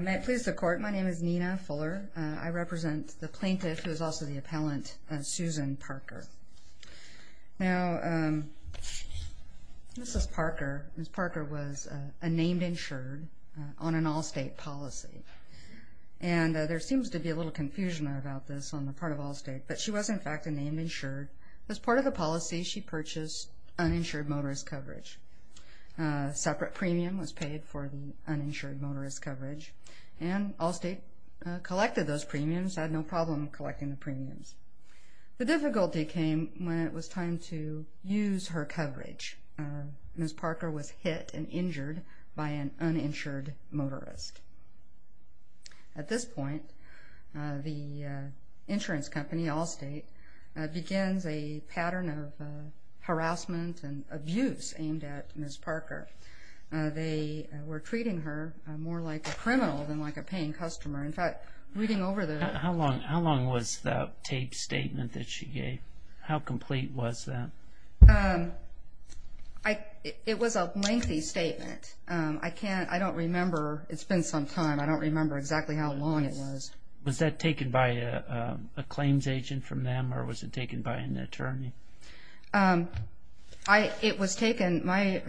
May it please the court, my name is Nina Fuller. I represent the plaintiff, who is also the appellant, Susan Parker. Now, Mrs. Parker was a named insured on an Allstate policy, and there seems to be a little confusion about this on the part of Allstate, but she was in fact a named insured. As part of the policy, she purchased uninsured motorist coverage. A separate premium was paid for the coverage, and Allstate collected those premiums, had no problem collecting the premiums. The difficulty came when it was time to use her coverage. Mrs. Parker was hit and injured by an uninsured motorist. At this point, the insurance company, Allstate, begins a pattern of harassment and abuse aimed at customer. In fact, reading over the... How long was the taped statement that she gave? How complete was that? It was a lengthy statement. I can't, I don't remember. It's been some time. I don't remember exactly how long it was. Was that taken by a claims agent from them, or was it taken by an attorney? It was taken, my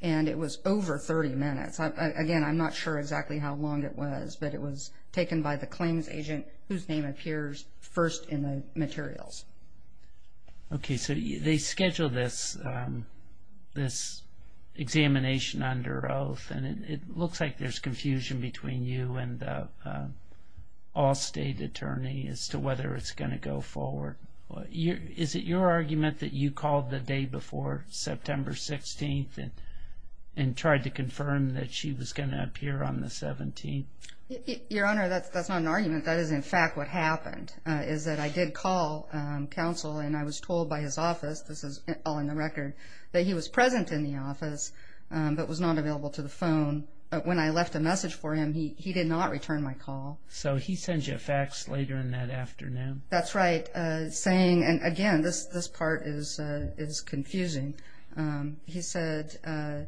it was over 30 minutes. Again, I'm not sure exactly how long it was, but it was taken by the claims agent, whose name appears first in the materials. Okay, so they schedule this examination under oath, and it looks like there's confusion between you and the Allstate attorney as to whether it's going to go forward. Is it your argument that you called the day before, September 16th, and tried to confirm that she was going to appear on the 17th? Your Honor, that's not an argument. That is, in fact, what happened, is that I did call counsel, and I was told by his office, this is all in the record, that he was present in the office, but was not available to the phone. When I left a message for him, he did not return my call. So he sends you a fax later in that afternoon? That's right, saying, and again, this part is confusing. He said, my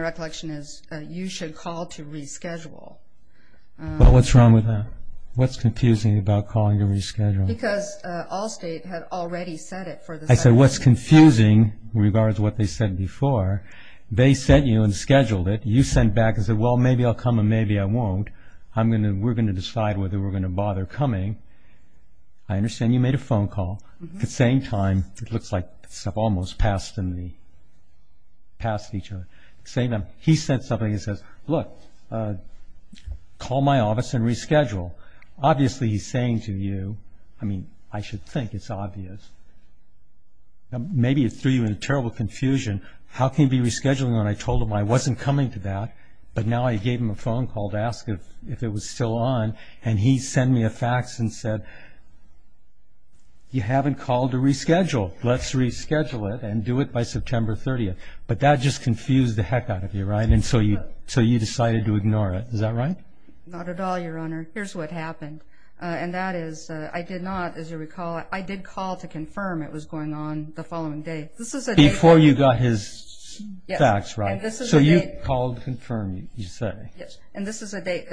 recollection is, you should call to reschedule. Well, what's wrong with that? What's confusing about calling to reschedule? Because Allstate had already said it for the 17th. I said, what's confusing, in regards to what they said before, they sent you and scheduled it. You sent back and said, well, maybe I'll come and maybe I won't. I'm going to, we're going to I understand you made a phone call. At the same time, it looks like stuff almost passed in the, passed each other. He said something, he says, look, call my office and reschedule. Obviously, he's saying to you, I mean, I should think it's obvious. Maybe it threw you in a terrible confusion. How can you be rescheduling when I told him I wasn't coming to that, but now I gave him a phone call to ask if it was still on, and he sent me a fax and said, you haven't called to reschedule. Let's reschedule it and do it by September 30th. But that just confused the heck out of you, right? And so you, so you decided to ignore it. Is that right? Not at all, your honor. Here's what happened. And that is, I did not, as you recall, I did call to confirm it was going on the following day. Before you got his fax, right? So you called to confirm, you chose. The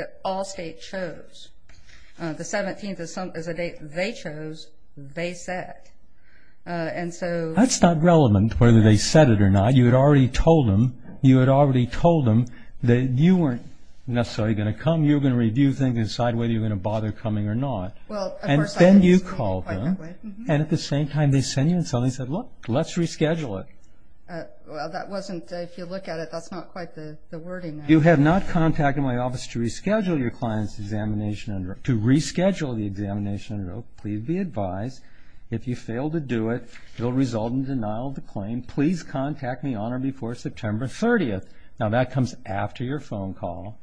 17th is a date they chose, they said. And so... That's not relevant whether they said it or not. You had already told them, you had already told them that you weren't necessarily going to come. You were going to review things and decide whether you were going to bother coming or not. And then you called them, and at the same time they sent you and suddenly said, look, let's reschedule it. Well, that wasn't, if you look at it, that's not quite the wording there. You have not contacted my office to reschedule your client's examination, to reschedule the examination. Please be advised if you fail to do it, you'll result in denial of the claim. Please contact me on or before September 30th. Now that comes after your phone call.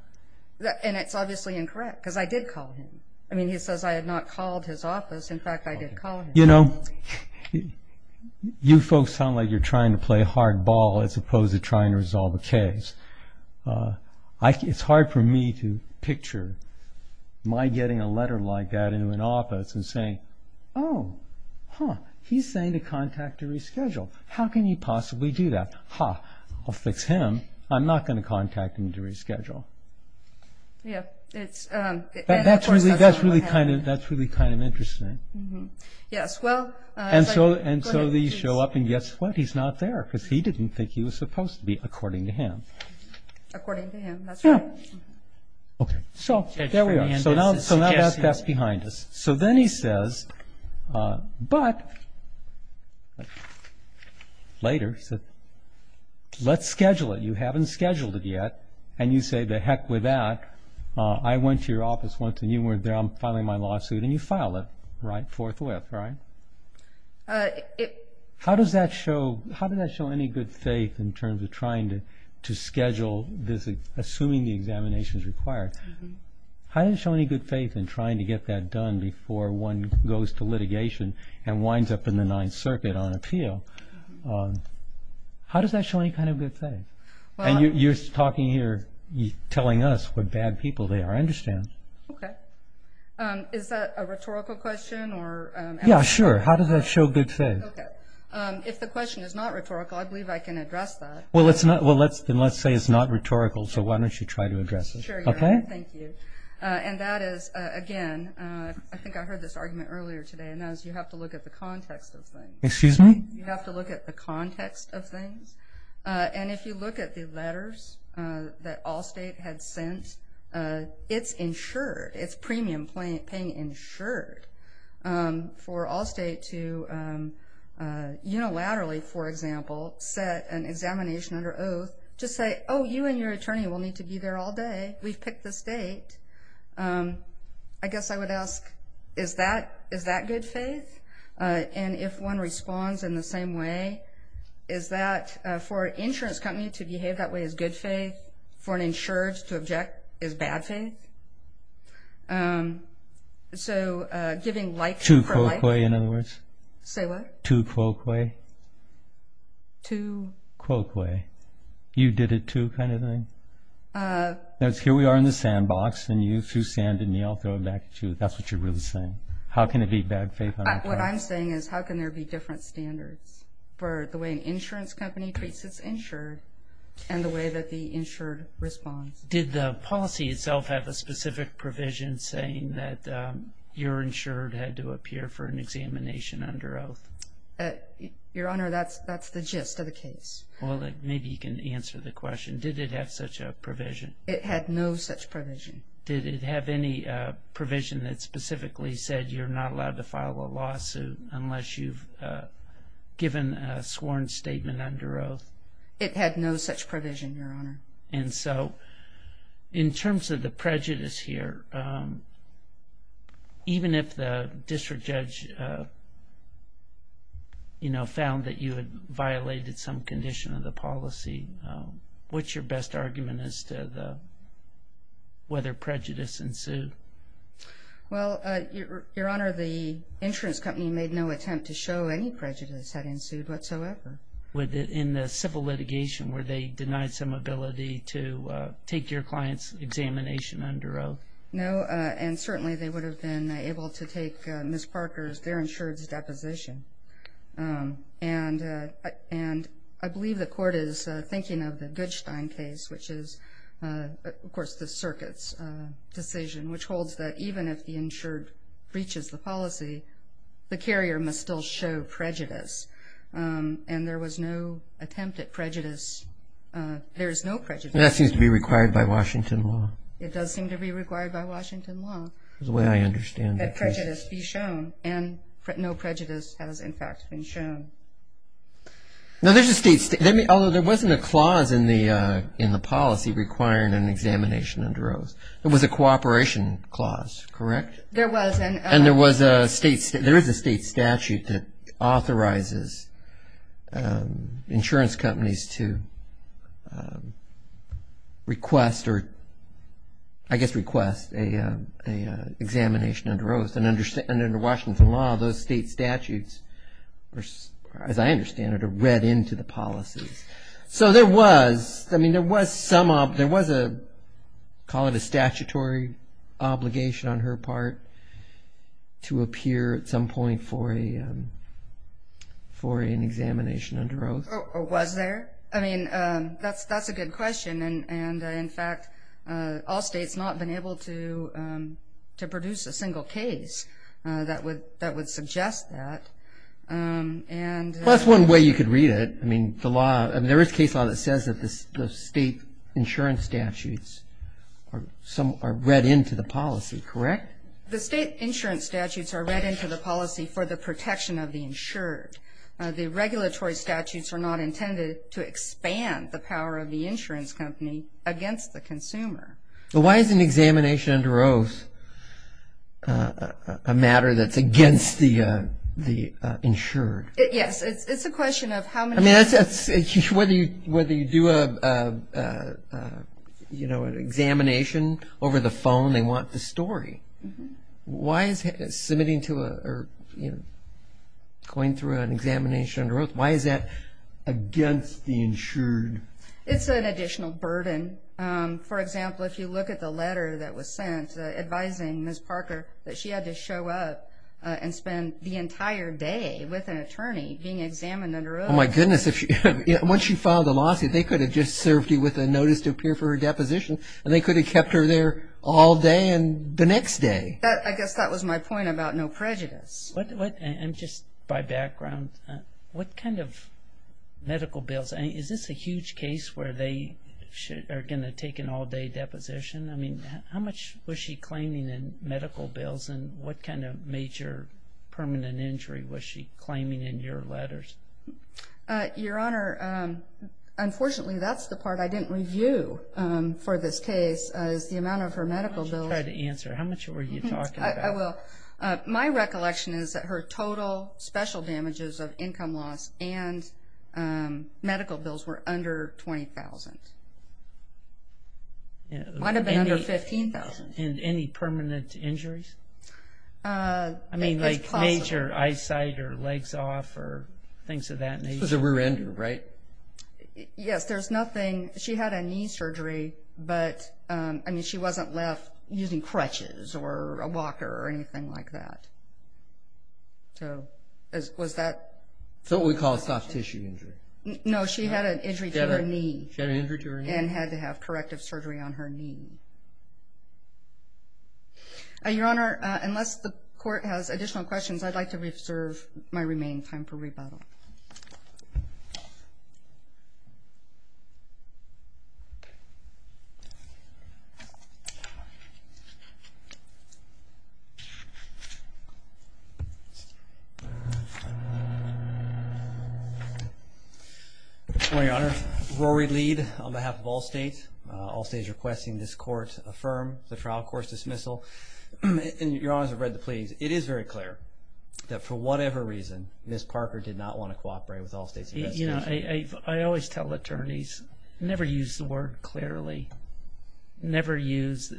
And it's obviously incorrect, because I did call him. I mean, he says I had not called his office. In fact, I did call him. You know, you folks sound like you're trying to play hardball as opposed to trying to resolve a case. It's hard for me to picture my getting a letter like that into an office and saying, oh, huh, he's saying to contact to reschedule. How can you possibly do that? Huh, I'll fix him. I'm not going to contact him to reschedule. That's really kind of interesting. And so these show up and guess what? He's not there, because he didn't think he was supposed to be, according to him. According to him, that's right. Okay, so there we are. So now that's behind us. So then he says, but later, he said, let's schedule it. You haven't scheduled it yet. And you say, the heck with that. I went to your office once and you weren't there. I'm filing my lawsuit. And you file it, right, forthwith, right? How does that show any good faith in terms of trying to schedule this, assuming the examination is required? How does it show any good faith in trying to get that done before one goes to litigation and winds up in the Ninth Circuit on appeal? How does that show any kind of good faith? And you're talking here, telling us what bad people they are. I understand. Okay. Is that a rhetorical question? Yeah, sure. How does that show good faith? Okay. If the question is not rhetorical, I believe I can address that. Well, let's say it's not rhetorical. So why don't you try to address it? Sure. Okay. Thank you. And that is, again, I think I heard this argument earlier today, and that is you have to look at the context of things. Excuse me? You have to look at the context of things. And if you look at the letters that Allstate had sent, it's insured. It's premium paying insured for Allstate to unilaterally, for example, set an examination under oath to say, oh, you and your attorney will need to be there all day. We've picked the state. I guess I would ask, is that good faith? And if one responds in the same way, is that for an insurance company to behave that way as good faith, for an insured to object as bad faith? So giving life for life? To quoque, in other words. Say what? To quoque. To? Quoque. You did it to kind of thing. Here we are in the sandbox, and you threw sand at me. I'll throw it back at you. That's what you're really saying. How can it be bad faith? What I'm saying is, how can there be different standards for the way an insurance company treats its insured and the way that the insured responds? Did the policy itself have a specific provision saying that your insured had to appear for an examination under oath? Your Honor, that's the gist of the case. Well, maybe you can answer the question. Did it have such a provision? It had no such provision. Did it have any provision that specifically said you're not allowed to file a complaint? That you've given a sworn statement under oath? It had no such provision, Your Honor. And so, in terms of the prejudice here, even if the district judge found that you had violated some condition of the policy, what's your best argument as to whether prejudice ensued? Well, Your Honor, the insurance company made no attempt to show any prejudice had ensued whatsoever. In the civil litigation, where they denied some ability to take your client's examination under oath? No, and certainly they would have been able to take Ms. Parker's, their insured's, deposition. And I believe the court is thinking of the Goodstein case, which is, of course, the circuit's decision, which holds that even if the insured breaches the policy, the carrier must still show prejudice. And there was no attempt at prejudice. There is no prejudice. That seems to be required by Washington law. It does seem to be required by Washington law. The way I understand it. That prejudice be shown and no prejudice has, in fact, been shown. Now, there's a state, although there wasn't a clause in the policy requiring an examination under oath, there was a cooperation clause, correct? There was. And there was a state, there is a state statute that authorizes insurance companies to request or, I guess, request a examination under oath. And under Washington law, those state statutes, or as I understand it, are read into the policies. So there was, I mean, there was some, there was a, call it a statutory obligation on her part to appear at some point for an examination under oath. Or was there? I mean, that's a good question. And in fact, all states not been able to and. Well, that's one way you could read it. I mean, the law, I mean, there is case law that says that the state insurance statutes or some are read into the policy, correct? The state insurance statutes are read into the policy for the protection of the insured. The regulatory statutes are not intended to expand the power of the insurance company against the consumer. But why is an examination under oath a matter that's against the, the insured? Yes. It's a question of how many. I mean, whether you, whether you do a, you know, an examination over the phone, they want the story. Why is submitting to a, or, you know, going through an examination under oath, why is that against the insured? It's an additional burden. For example, if you look at the letter that was sent advising Ms. and spend the entire day with an attorney being examined under oath. Oh, my goodness. Once she filed the lawsuit, they could have just served you with a notice to appear for her deposition and they could have kept her there all day and the next day. I guess that was my point about no prejudice. And just by background, what kind of medical bills, is this a huge case where they are going to take an all day deposition? I mean, how much was she claiming in medical bills and what kind of major permanent injury was she claiming in your letters? Your Honor, unfortunately, that's the part I didn't review for this case is the amount of her medical bills. Try to answer. How much were you talking about? I will. My recollection is that her total special damages of income loss and medical bills were under $20,000. It might have been under $15,000. Any permanent injuries? I mean, like major eyesight or legs off or things of that nature. This was a rear ender, right? Yes, there's nothing. She had a knee surgery, but I mean, she wasn't left using crutches or a walker or anything like that. So, was that? It's what we call a soft tissue injury. No, she had an injury to her knee. And had to have corrective surgery on her knee. Your Honor, unless the court has additional questions, I'd like to reserve my remaining time for rebuttal. Okay. Good morning, Your Honor. Rory Lead on behalf of Allstate. Allstate is requesting this court affirm the trial court's dismissal. And Your Honor, as I've read the pleas, it is very clear that for whatever reason, Ms. Parker did not want to cooperate with Allstate's investigation. I always tell attorneys, never use the word clearly. Never use...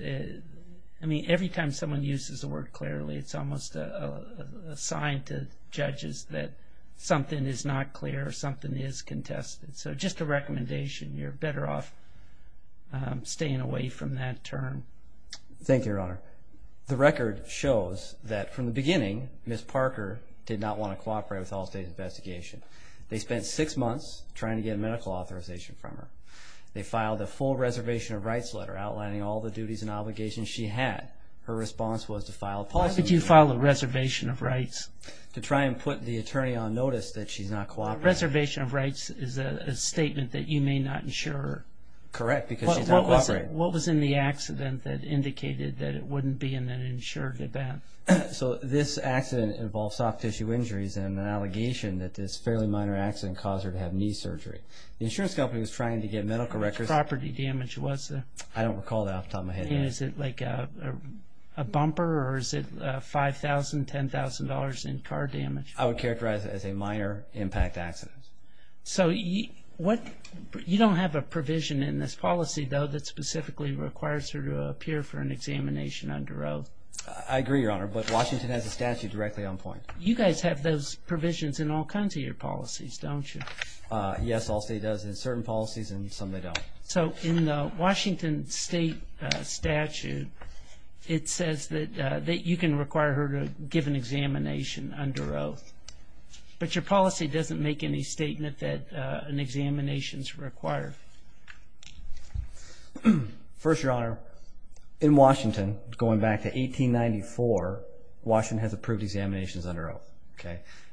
I mean, every time someone uses the word clearly, it's almost a sign to judges that something is not clear or something is contested. So, just a recommendation. You're better off staying away from that term. Thank you, Your Honor. The record shows that from the beginning, Ms. Parker did not want to cooperate with Allstate's investigation. They spent six months trying to get medical authorization from her. They filed a full reservation of rights letter outlining all the duties and obligations she had. Her response was to file a... Why did you file a reservation of rights? To try and put the attorney on notice that she's not cooperating. Reservation of rights is a statement that you may not insure her. Correct, because she's not cooperating. What was in the accident that indicated that it wouldn't be an insured event? So, this accident involved soft tissue injuries and an allegation that this fairly minor accident caused her to have knee surgery. The insurance company was trying to get medical records... Property damage, was it? I don't recall that off the top of my head. Is it like a bumper or is it $5,000, $10,000 in car damage? I would characterize it as a minor impact accident. So, you don't have a provision in this policy, though, that specifically requires her to appear for an examination under oath? I agree, Your Honor, but Washington has a statute directly on point. You guys have those provisions in all kinds of your policies, don't you? Yes, all state does in certain policies and some they don't. So, in the Washington state statute, it says that you can require her to give an examination under oath, but your policy doesn't make any statement that an examination is required. First, Your Honor, in Washington, going back to 1894, Washington has approved examinations under oath.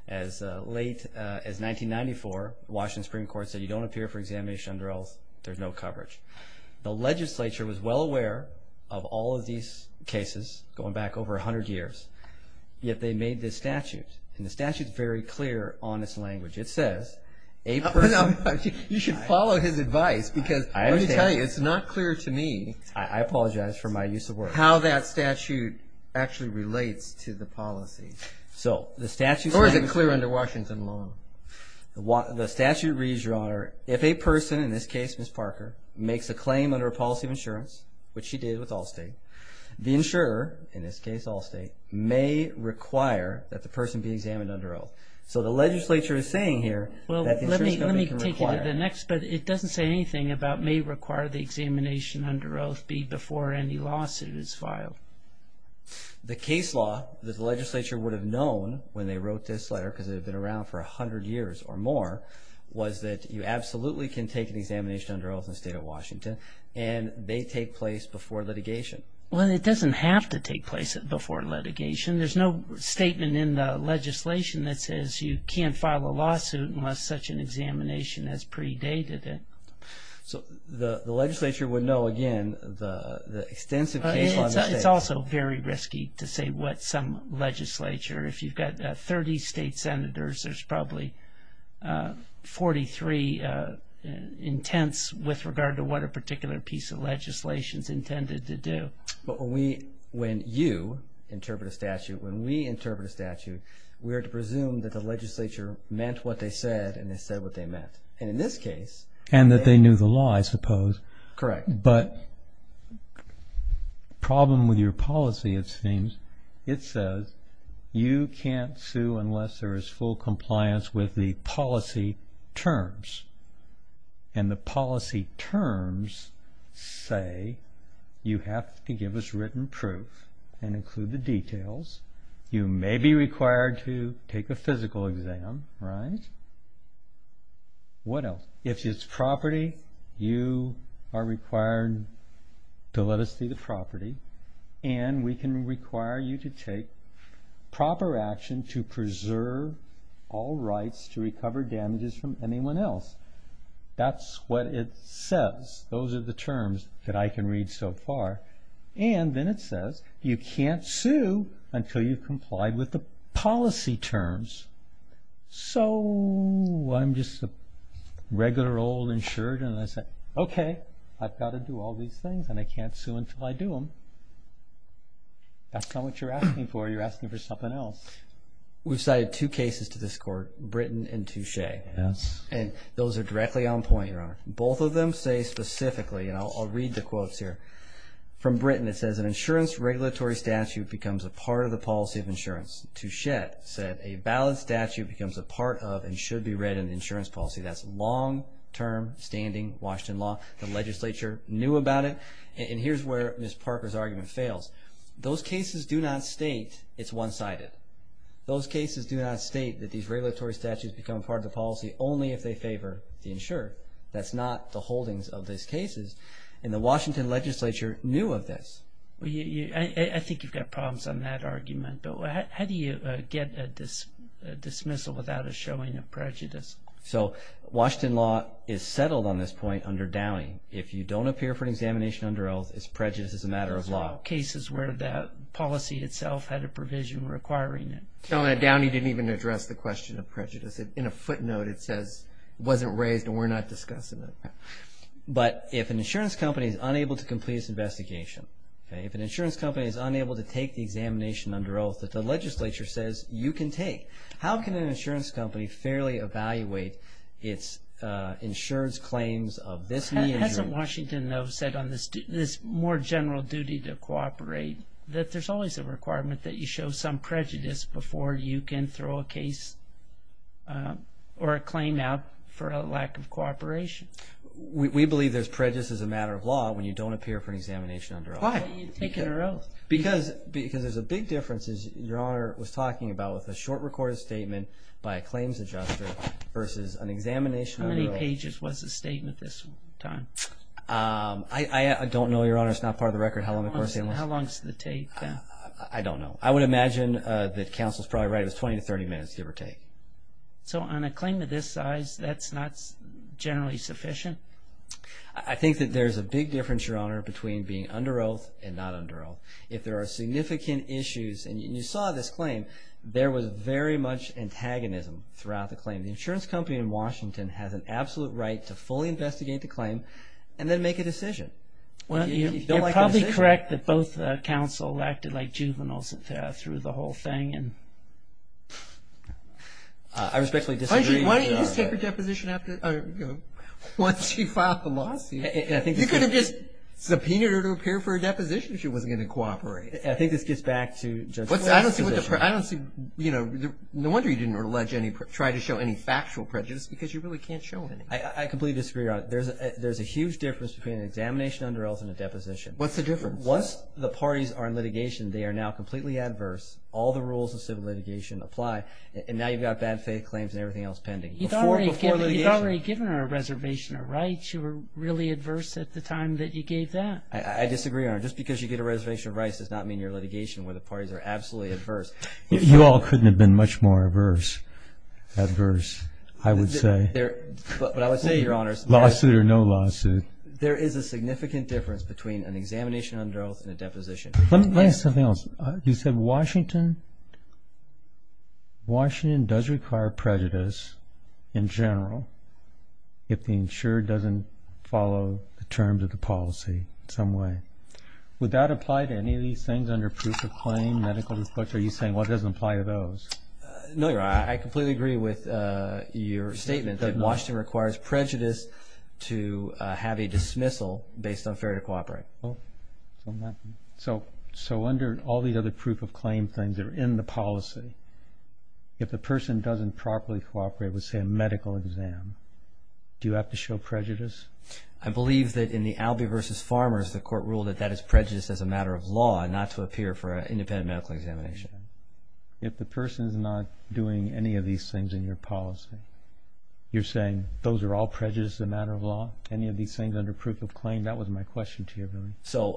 As late as 1994, the Washington Supreme Court said you don't appear for examination under oath, there's no coverage. The legislature was well aware of all of these cases going back over 100 years, yet they made this statute, and the statute's very clear on its language. It says, a person... You should follow his advice, because let me tell you, it's not clear to me... I apologize for my use of words. ...how that statute actually relates to the policy. Or is it clear under Washington law? The statute reads, Your Honor, if a person, in this case, Ms. Parker, makes a claim under a policy of insurance, which she did with Allstate, the insurer, in this case Allstate, may require that the person be examined under oath. So the legislature is saying here... Well, let me take you to the next, but it doesn't say anything about may require the examination under oath be before any lawsuit is filed. The case law that the legislature would have known when they wrote this letter, because it had been around for 100 years or more, was that you absolutely can take an examination under oath in the state of Washington, and they take place before litigation. Well, it doesn't have to take place before litigation. There's no statement in the legislation that says you can't file a lawsuit unless such an examination has predated it. So the legislature would know, again, the extensive case law... It's also very risky to say what some legislature... If you've got 30 state senators, there's probably 43 intents with regard to what a particular piece of legislation is intended to do. But when you interpret a statute, when we interpret a statute, we are to presume that the legislature meant what they said, and they said what they meant. And in this case... And that they knew the law, I suppose. Correct. But the problem with your policy, it seems, it says you can't sue unless there is full compliance with the policy terms. And the policy terms say you have to give us written proof and include the details. You may be required to take a physical exam, right? What else? If it's property, you are required to let us see the property, and we can require you to take proper action to preserve all rights to recover damages from anyone else. That's what it says. Those are the terms that I can read so far. And then it says you can't sue until you've complied with the policy terms. So I'm just a regular old insured, and I say, okay, I've got to do all these things, and I can't sue until I do them. That's not what you're asking for. You're asking for something else. We've cited two cases to this court, Britton and Touche. Yes. And those are directly on point, Your Honor. Both of them say specifically, and I'll read the quotes here. From Britton, it says an insurance regulatory statute becomes a part of the policy of insurance. Touche said a valid statute becomes a part of and should be read in the insurance policy. That's long-term standing Washington law. The legislature knew about it. And here's where Ms. Parker's argument fails. Those cases do not state it's one-sided. Those cases do not state that these regulatory statutes become part of the policy only if they favor the insured. That's not the holdings of these cases. And the Washington legislature knew of this. I think you've got problems on that argument. But how do you get a dismissal without a showing of prejudice? So Washington law is settled on this point under Downey. If you don't appear for an examination under oath, it's prejudice. It's a matter of law. Cases where the policy itself had a provision requiring it. Telling that Downey didn't even address the question of prejudice. In a footnote, it says it wasn't raised and we're not discussing it. But if an insurance company is unable to complete its investigation, okay, if an insurance company is unable to take the examination under oath that the legislature says you can take, how can an insurance company fairly evaluate its insured's claims of this measure? Hasn't Washington, though, said on this more general duty to cooperate that there's always a requirement that you show some prejudice before you can throw a case or a claim out for a lack of cooperation? We believe there's prejudice as a matter of law when you don't appear for an examination under oath. Why are you taking an oath? Because there's a big difference, as Your Honor was talking about, with a short recorded statement by a claims adjuster versus an examination. How many pages was the statement this time? I don't know, Your Honor. It's not part of the record how long the court statement was. How long does it take? I don't know. I would imagine that counsel's probably right. It was 20 to 30 minutes, give or take. So on a claim of this size, that's not generally sufficient? I think that there's a big difference, Your Honor, between being under oath and not under oath. If there are significant issues, and you saw this claim, there was very much antagonism throughout the claim. The insurance company in Washington has an absolute right to fully investigate the claim and then make a decision. You're probably correct that both counsel acted like juveniles through the whole thing. I respectfully disagree. Why didn't you just take her deposition once you filed the lawsuit? You could have just subpoenaed her to appear for a deposition if she wasn't going to cooperate. I think this gets back to Judge's last position. I don't see, you know, no wonder you didn't try to show any factual prejudice because you really can't show any. I completely disagree, Your Honor. There's a huge difference between an examination under oath and a deposition. What's the difference? Once the parties are in litigation, they are now completely adverse. All the rules of civil litigation apply. And now you've got bad faith claims and everything else pending. You've already given her a reservation of rights. You were really adverse at the time that you gave that. I disagree, Your Honor. Just because you get a reservation of rights does not mean your litigation with the parties are absolutely adverse. You all couldn't have been much more adverse, I would say. But I would say, Your Honor... Lawsuit or no lawsuit? There is a significant difference between an examination under oath and a deposition. Let me ask something else. You said Washington does require prejudice in general if the insurer doesn't follow the terms of the policy in some way. Would that apply to any of these things under proof of claim, medical reflux? Are you saying, well, it doesn't apply to those? No, Your Honor. I completely agree with your statement that Washington requires prejudice to have a dismissal based on fair to cooperate. So under all these other proof of claim things that are in the policy, if the person doesn't properly cooperate with, say, a medical exam, do you have to show prejudice? I believe that in the Albee v. Farmers, the court ruled that that is prejudice as a matter of law and not to appear for an independent medical examination. If the person's not doing any of these things in your policy, you're saying those are all prejudice as a matter of law? Any of these things under proof of claim? That was my question to you, Billy. So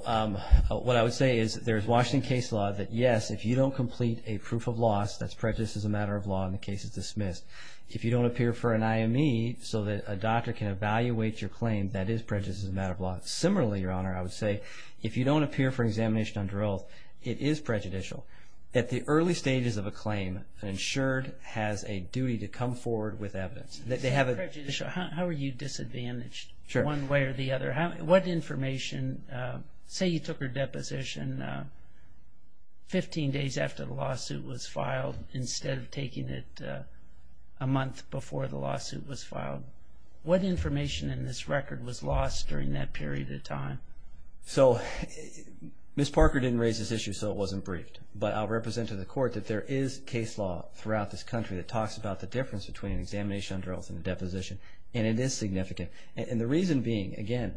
what I would say is there's Washington case law that, yes, if you don't complete a proof of loss, that's prejudice as a matter of law, and the case is dismissed. If you don't appear for an IME so that a doctor can evaluate your claim, that is prejudice as a matter of law. Similarly, Your Honor, I would say if you don't appear for examination under oath, it is prejudicial. At the early stages of a claim, an insured has a duty to come forward with evidence. How are you disadvantaged one way or the other? Say you took her deposition 15 days after the lawsuit was filed instead of taking it a month before the lawsuit was filed. What information in this record was lost during that period of time? So Ms. Parker didn't raise this issue, so it wasn't briefed. I'll represent to the Court that there is case law throughout this country that talks about the difference between an examination under oath and a deposition, and it is significant. The reason being, again,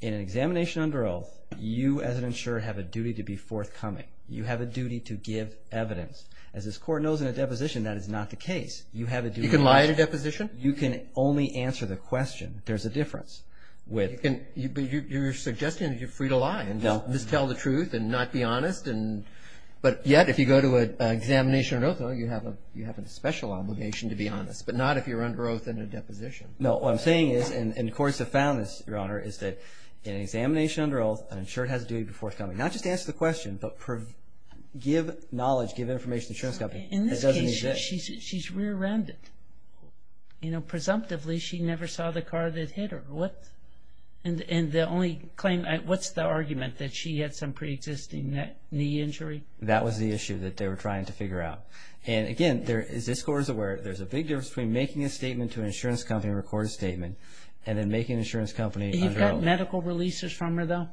in an examination under oath, you as an insured have a duty to be forthcoming. You have a duty to give evidence. As this Court knows in a deposition, that is not the case. You have a duty. You can lie at a deposition? You can only answer the question. There's a difference. But you're suggesting that you're free to lie and just tell the truth and not be honest. Yet, if you go to an examination under oath, you have a special obligation to be honest, but not if you're under oath in a deposition. No, what I'm saying is, and courts have found this, Your Honor, is that in an examination under oath, an insured has a duty to be forthcoming. Not just to answer the question, but to give knowledge, give information to the insurance company. In this case, she's rear-ended. Presumptively, she never saw the car that hit her. What's the argument that she had some pre-existing knee injury? That was the issue that they were trying to figure out. Again, as this Court is aware, there's a big difference between making a statement to an insurance company, record a statement, and then making an insurance company under oath. You got medical releases from her, though?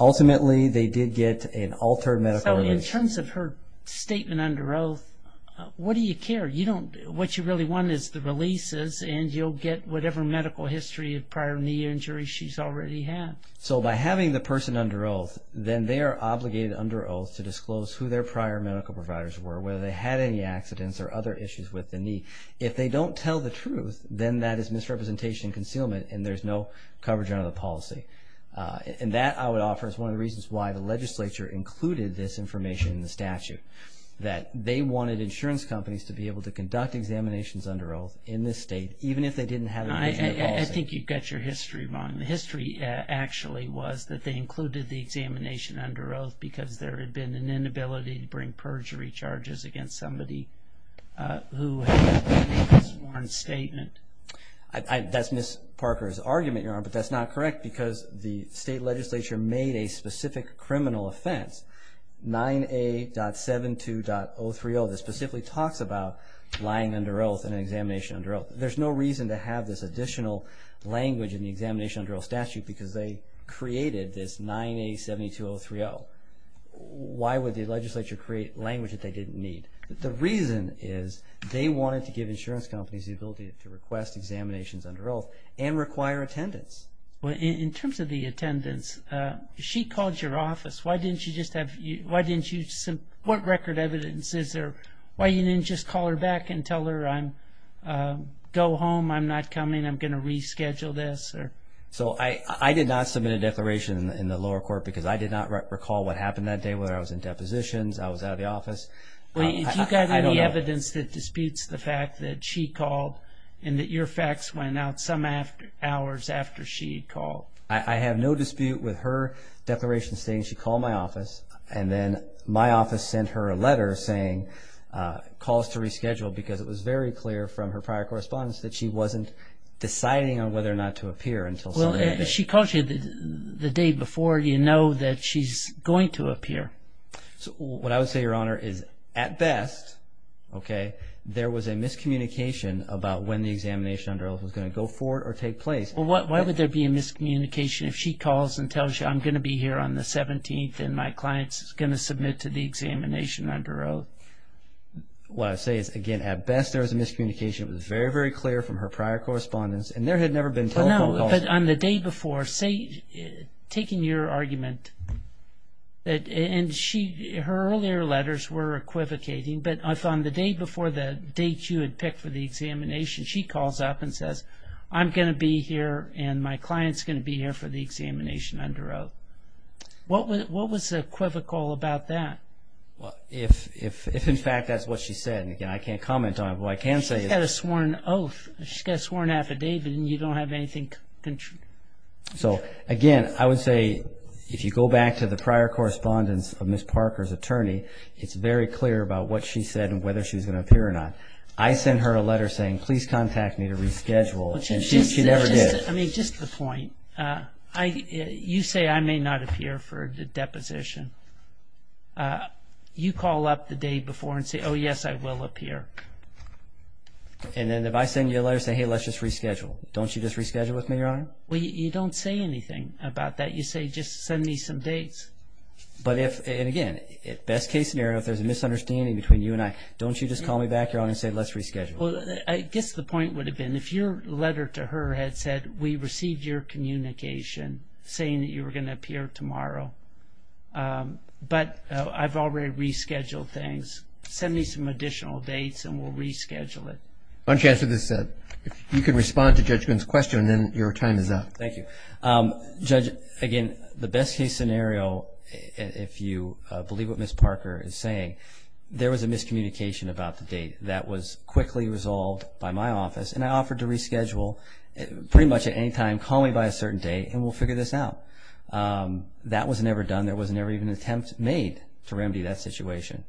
Ultimately, they did get an altered medical release. In terms of her statement under oath, what do you care? What you really want is the releases, and you'll get whatever medical history of prior knee injury she's already had. So, by having the person under oath, then they are obligated, under oath, to disclose who their prior medical providers were, whether they had any accidents or other issues with the knee. If they don't tell the truth, then that is misrepresentation and concealment, and there's no coverage under the policy. And that, I would offer, is one of the reasons why the legislature included this information in the statute. That they wanted insurance companies to be able to conduct examinations under oath in this state, even if they didn't have a patient policy. I think you've got your history wrong. History, actually, was that they included the examination under oath because there had been an inability to bring perjury charges against somebody who had made this sworn statement. That's Ms. Parker's argument, Your Honor, but that's not correct because the state legislature made a specific criminal offense, 9A.72.030, that specifically talks about lying under oath and examination under oath. There's no reason to have this additional language in the examination under oath statute because they created this 9A.72.030. Why would the legislature create language that they didn't need? The reason is they wanted to give insurance companies the ability to request examinations under oath and require attendance. Well, in terms of the attendance, she called your office. Why didn't you just have... What record evidence is there? Why you didn't just call her back and tell her, I'm going home, I'm not coming, I'm going to reschedule this? So, I did not submit a declaration in the lower court because I did not recall what happened that day, whether I was in depositions, I was out of the office. Well, do you have any evidence that disputes the fact that she called and that your fax went out some hours after she called? I have no dispute with her declaration saying she called my office and then my office sent her a letter saying, calls to reschedule because it was very clear from her prior correspondence that she wasn't deciding on whether or not to appear until... Well, if she called you the day before, you know that she's going to appear. So, what I would say, Your Honor, is at best, okay, there was a miscommunication about when the examination under oath was going to go forward or take place. Well, why would there be a miscommunication if she calls and tells you, I'm going to be here on the 17th and my client is going to submit to the examination under oath? What I say is, again, at best, there was a miscommunication. It was very, very clear from her prior correspondence and there had never been telephone calls... No, but on the day before, say, taking your argument, and her earlier letters were equivocating, but on the day before the date you had picked for the examination, she calls up and says, I'm going to be here and my client's going to be here for the examination under oath. What was equivocal about that? Well, if in fact that's what she said, and again, I can't comment on it, but what I can say is... She's got a sworn oath. She's got a sworn affidavit and you don't have anything... So, again, I would say, if you go back to the prior correspondence of Ms. Parker's attorney, it's very clear about what she said and whether she was going to appear or not. I sent her a letter saying, please contact me to reschedule and she never did. I mean, just to the point, you say I may not appear for the deposition. You call up the day before and say, oh, yes, I will appear. And then if I send you a letter, say, hey, let's just reschedule. Don't you just reschedule with me, Your Honor? Well, you don't say anything about that. You say, just send me some dates. But if, and again, best case scenario, if there's a misunderstanding between you and I, don't you just call me back, Your Honor, and say, let's reschedule? Well, I guess the point would have been, if your letter to her had said, we received your communication saying that you were going to appear tomorrow, but I've already rescheduled things. Send me some additional dates and we'll reschedule it. Why don't you answer this? If you can respond to Judge Glynn's question, then your time is up. Thank you. Judge, again, the best case scenario, if you believe what Ms. Parker is saying, there was a miscommunication about the date that was quickly resolved by my office and I offered to reschedule pretty much at any time. Call me by a certain day and we'll figure this out. But that was never done. There was never even an attempt made to remedy that situation.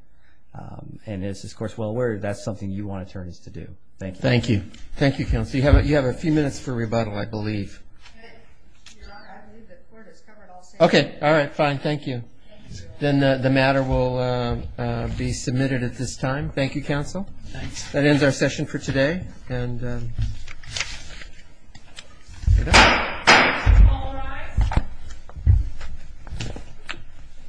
And as is, of course, well aware, that's something you want attorneys to do. Thank you. Thank you. Thank you, counsel. You have a few minutes for rebuttal, I believe. Okay. All right. Fine. Thank you. Then the matter will be submitted at this time. Thank you, counsel. Thanks. That ends our session for today. Thank you.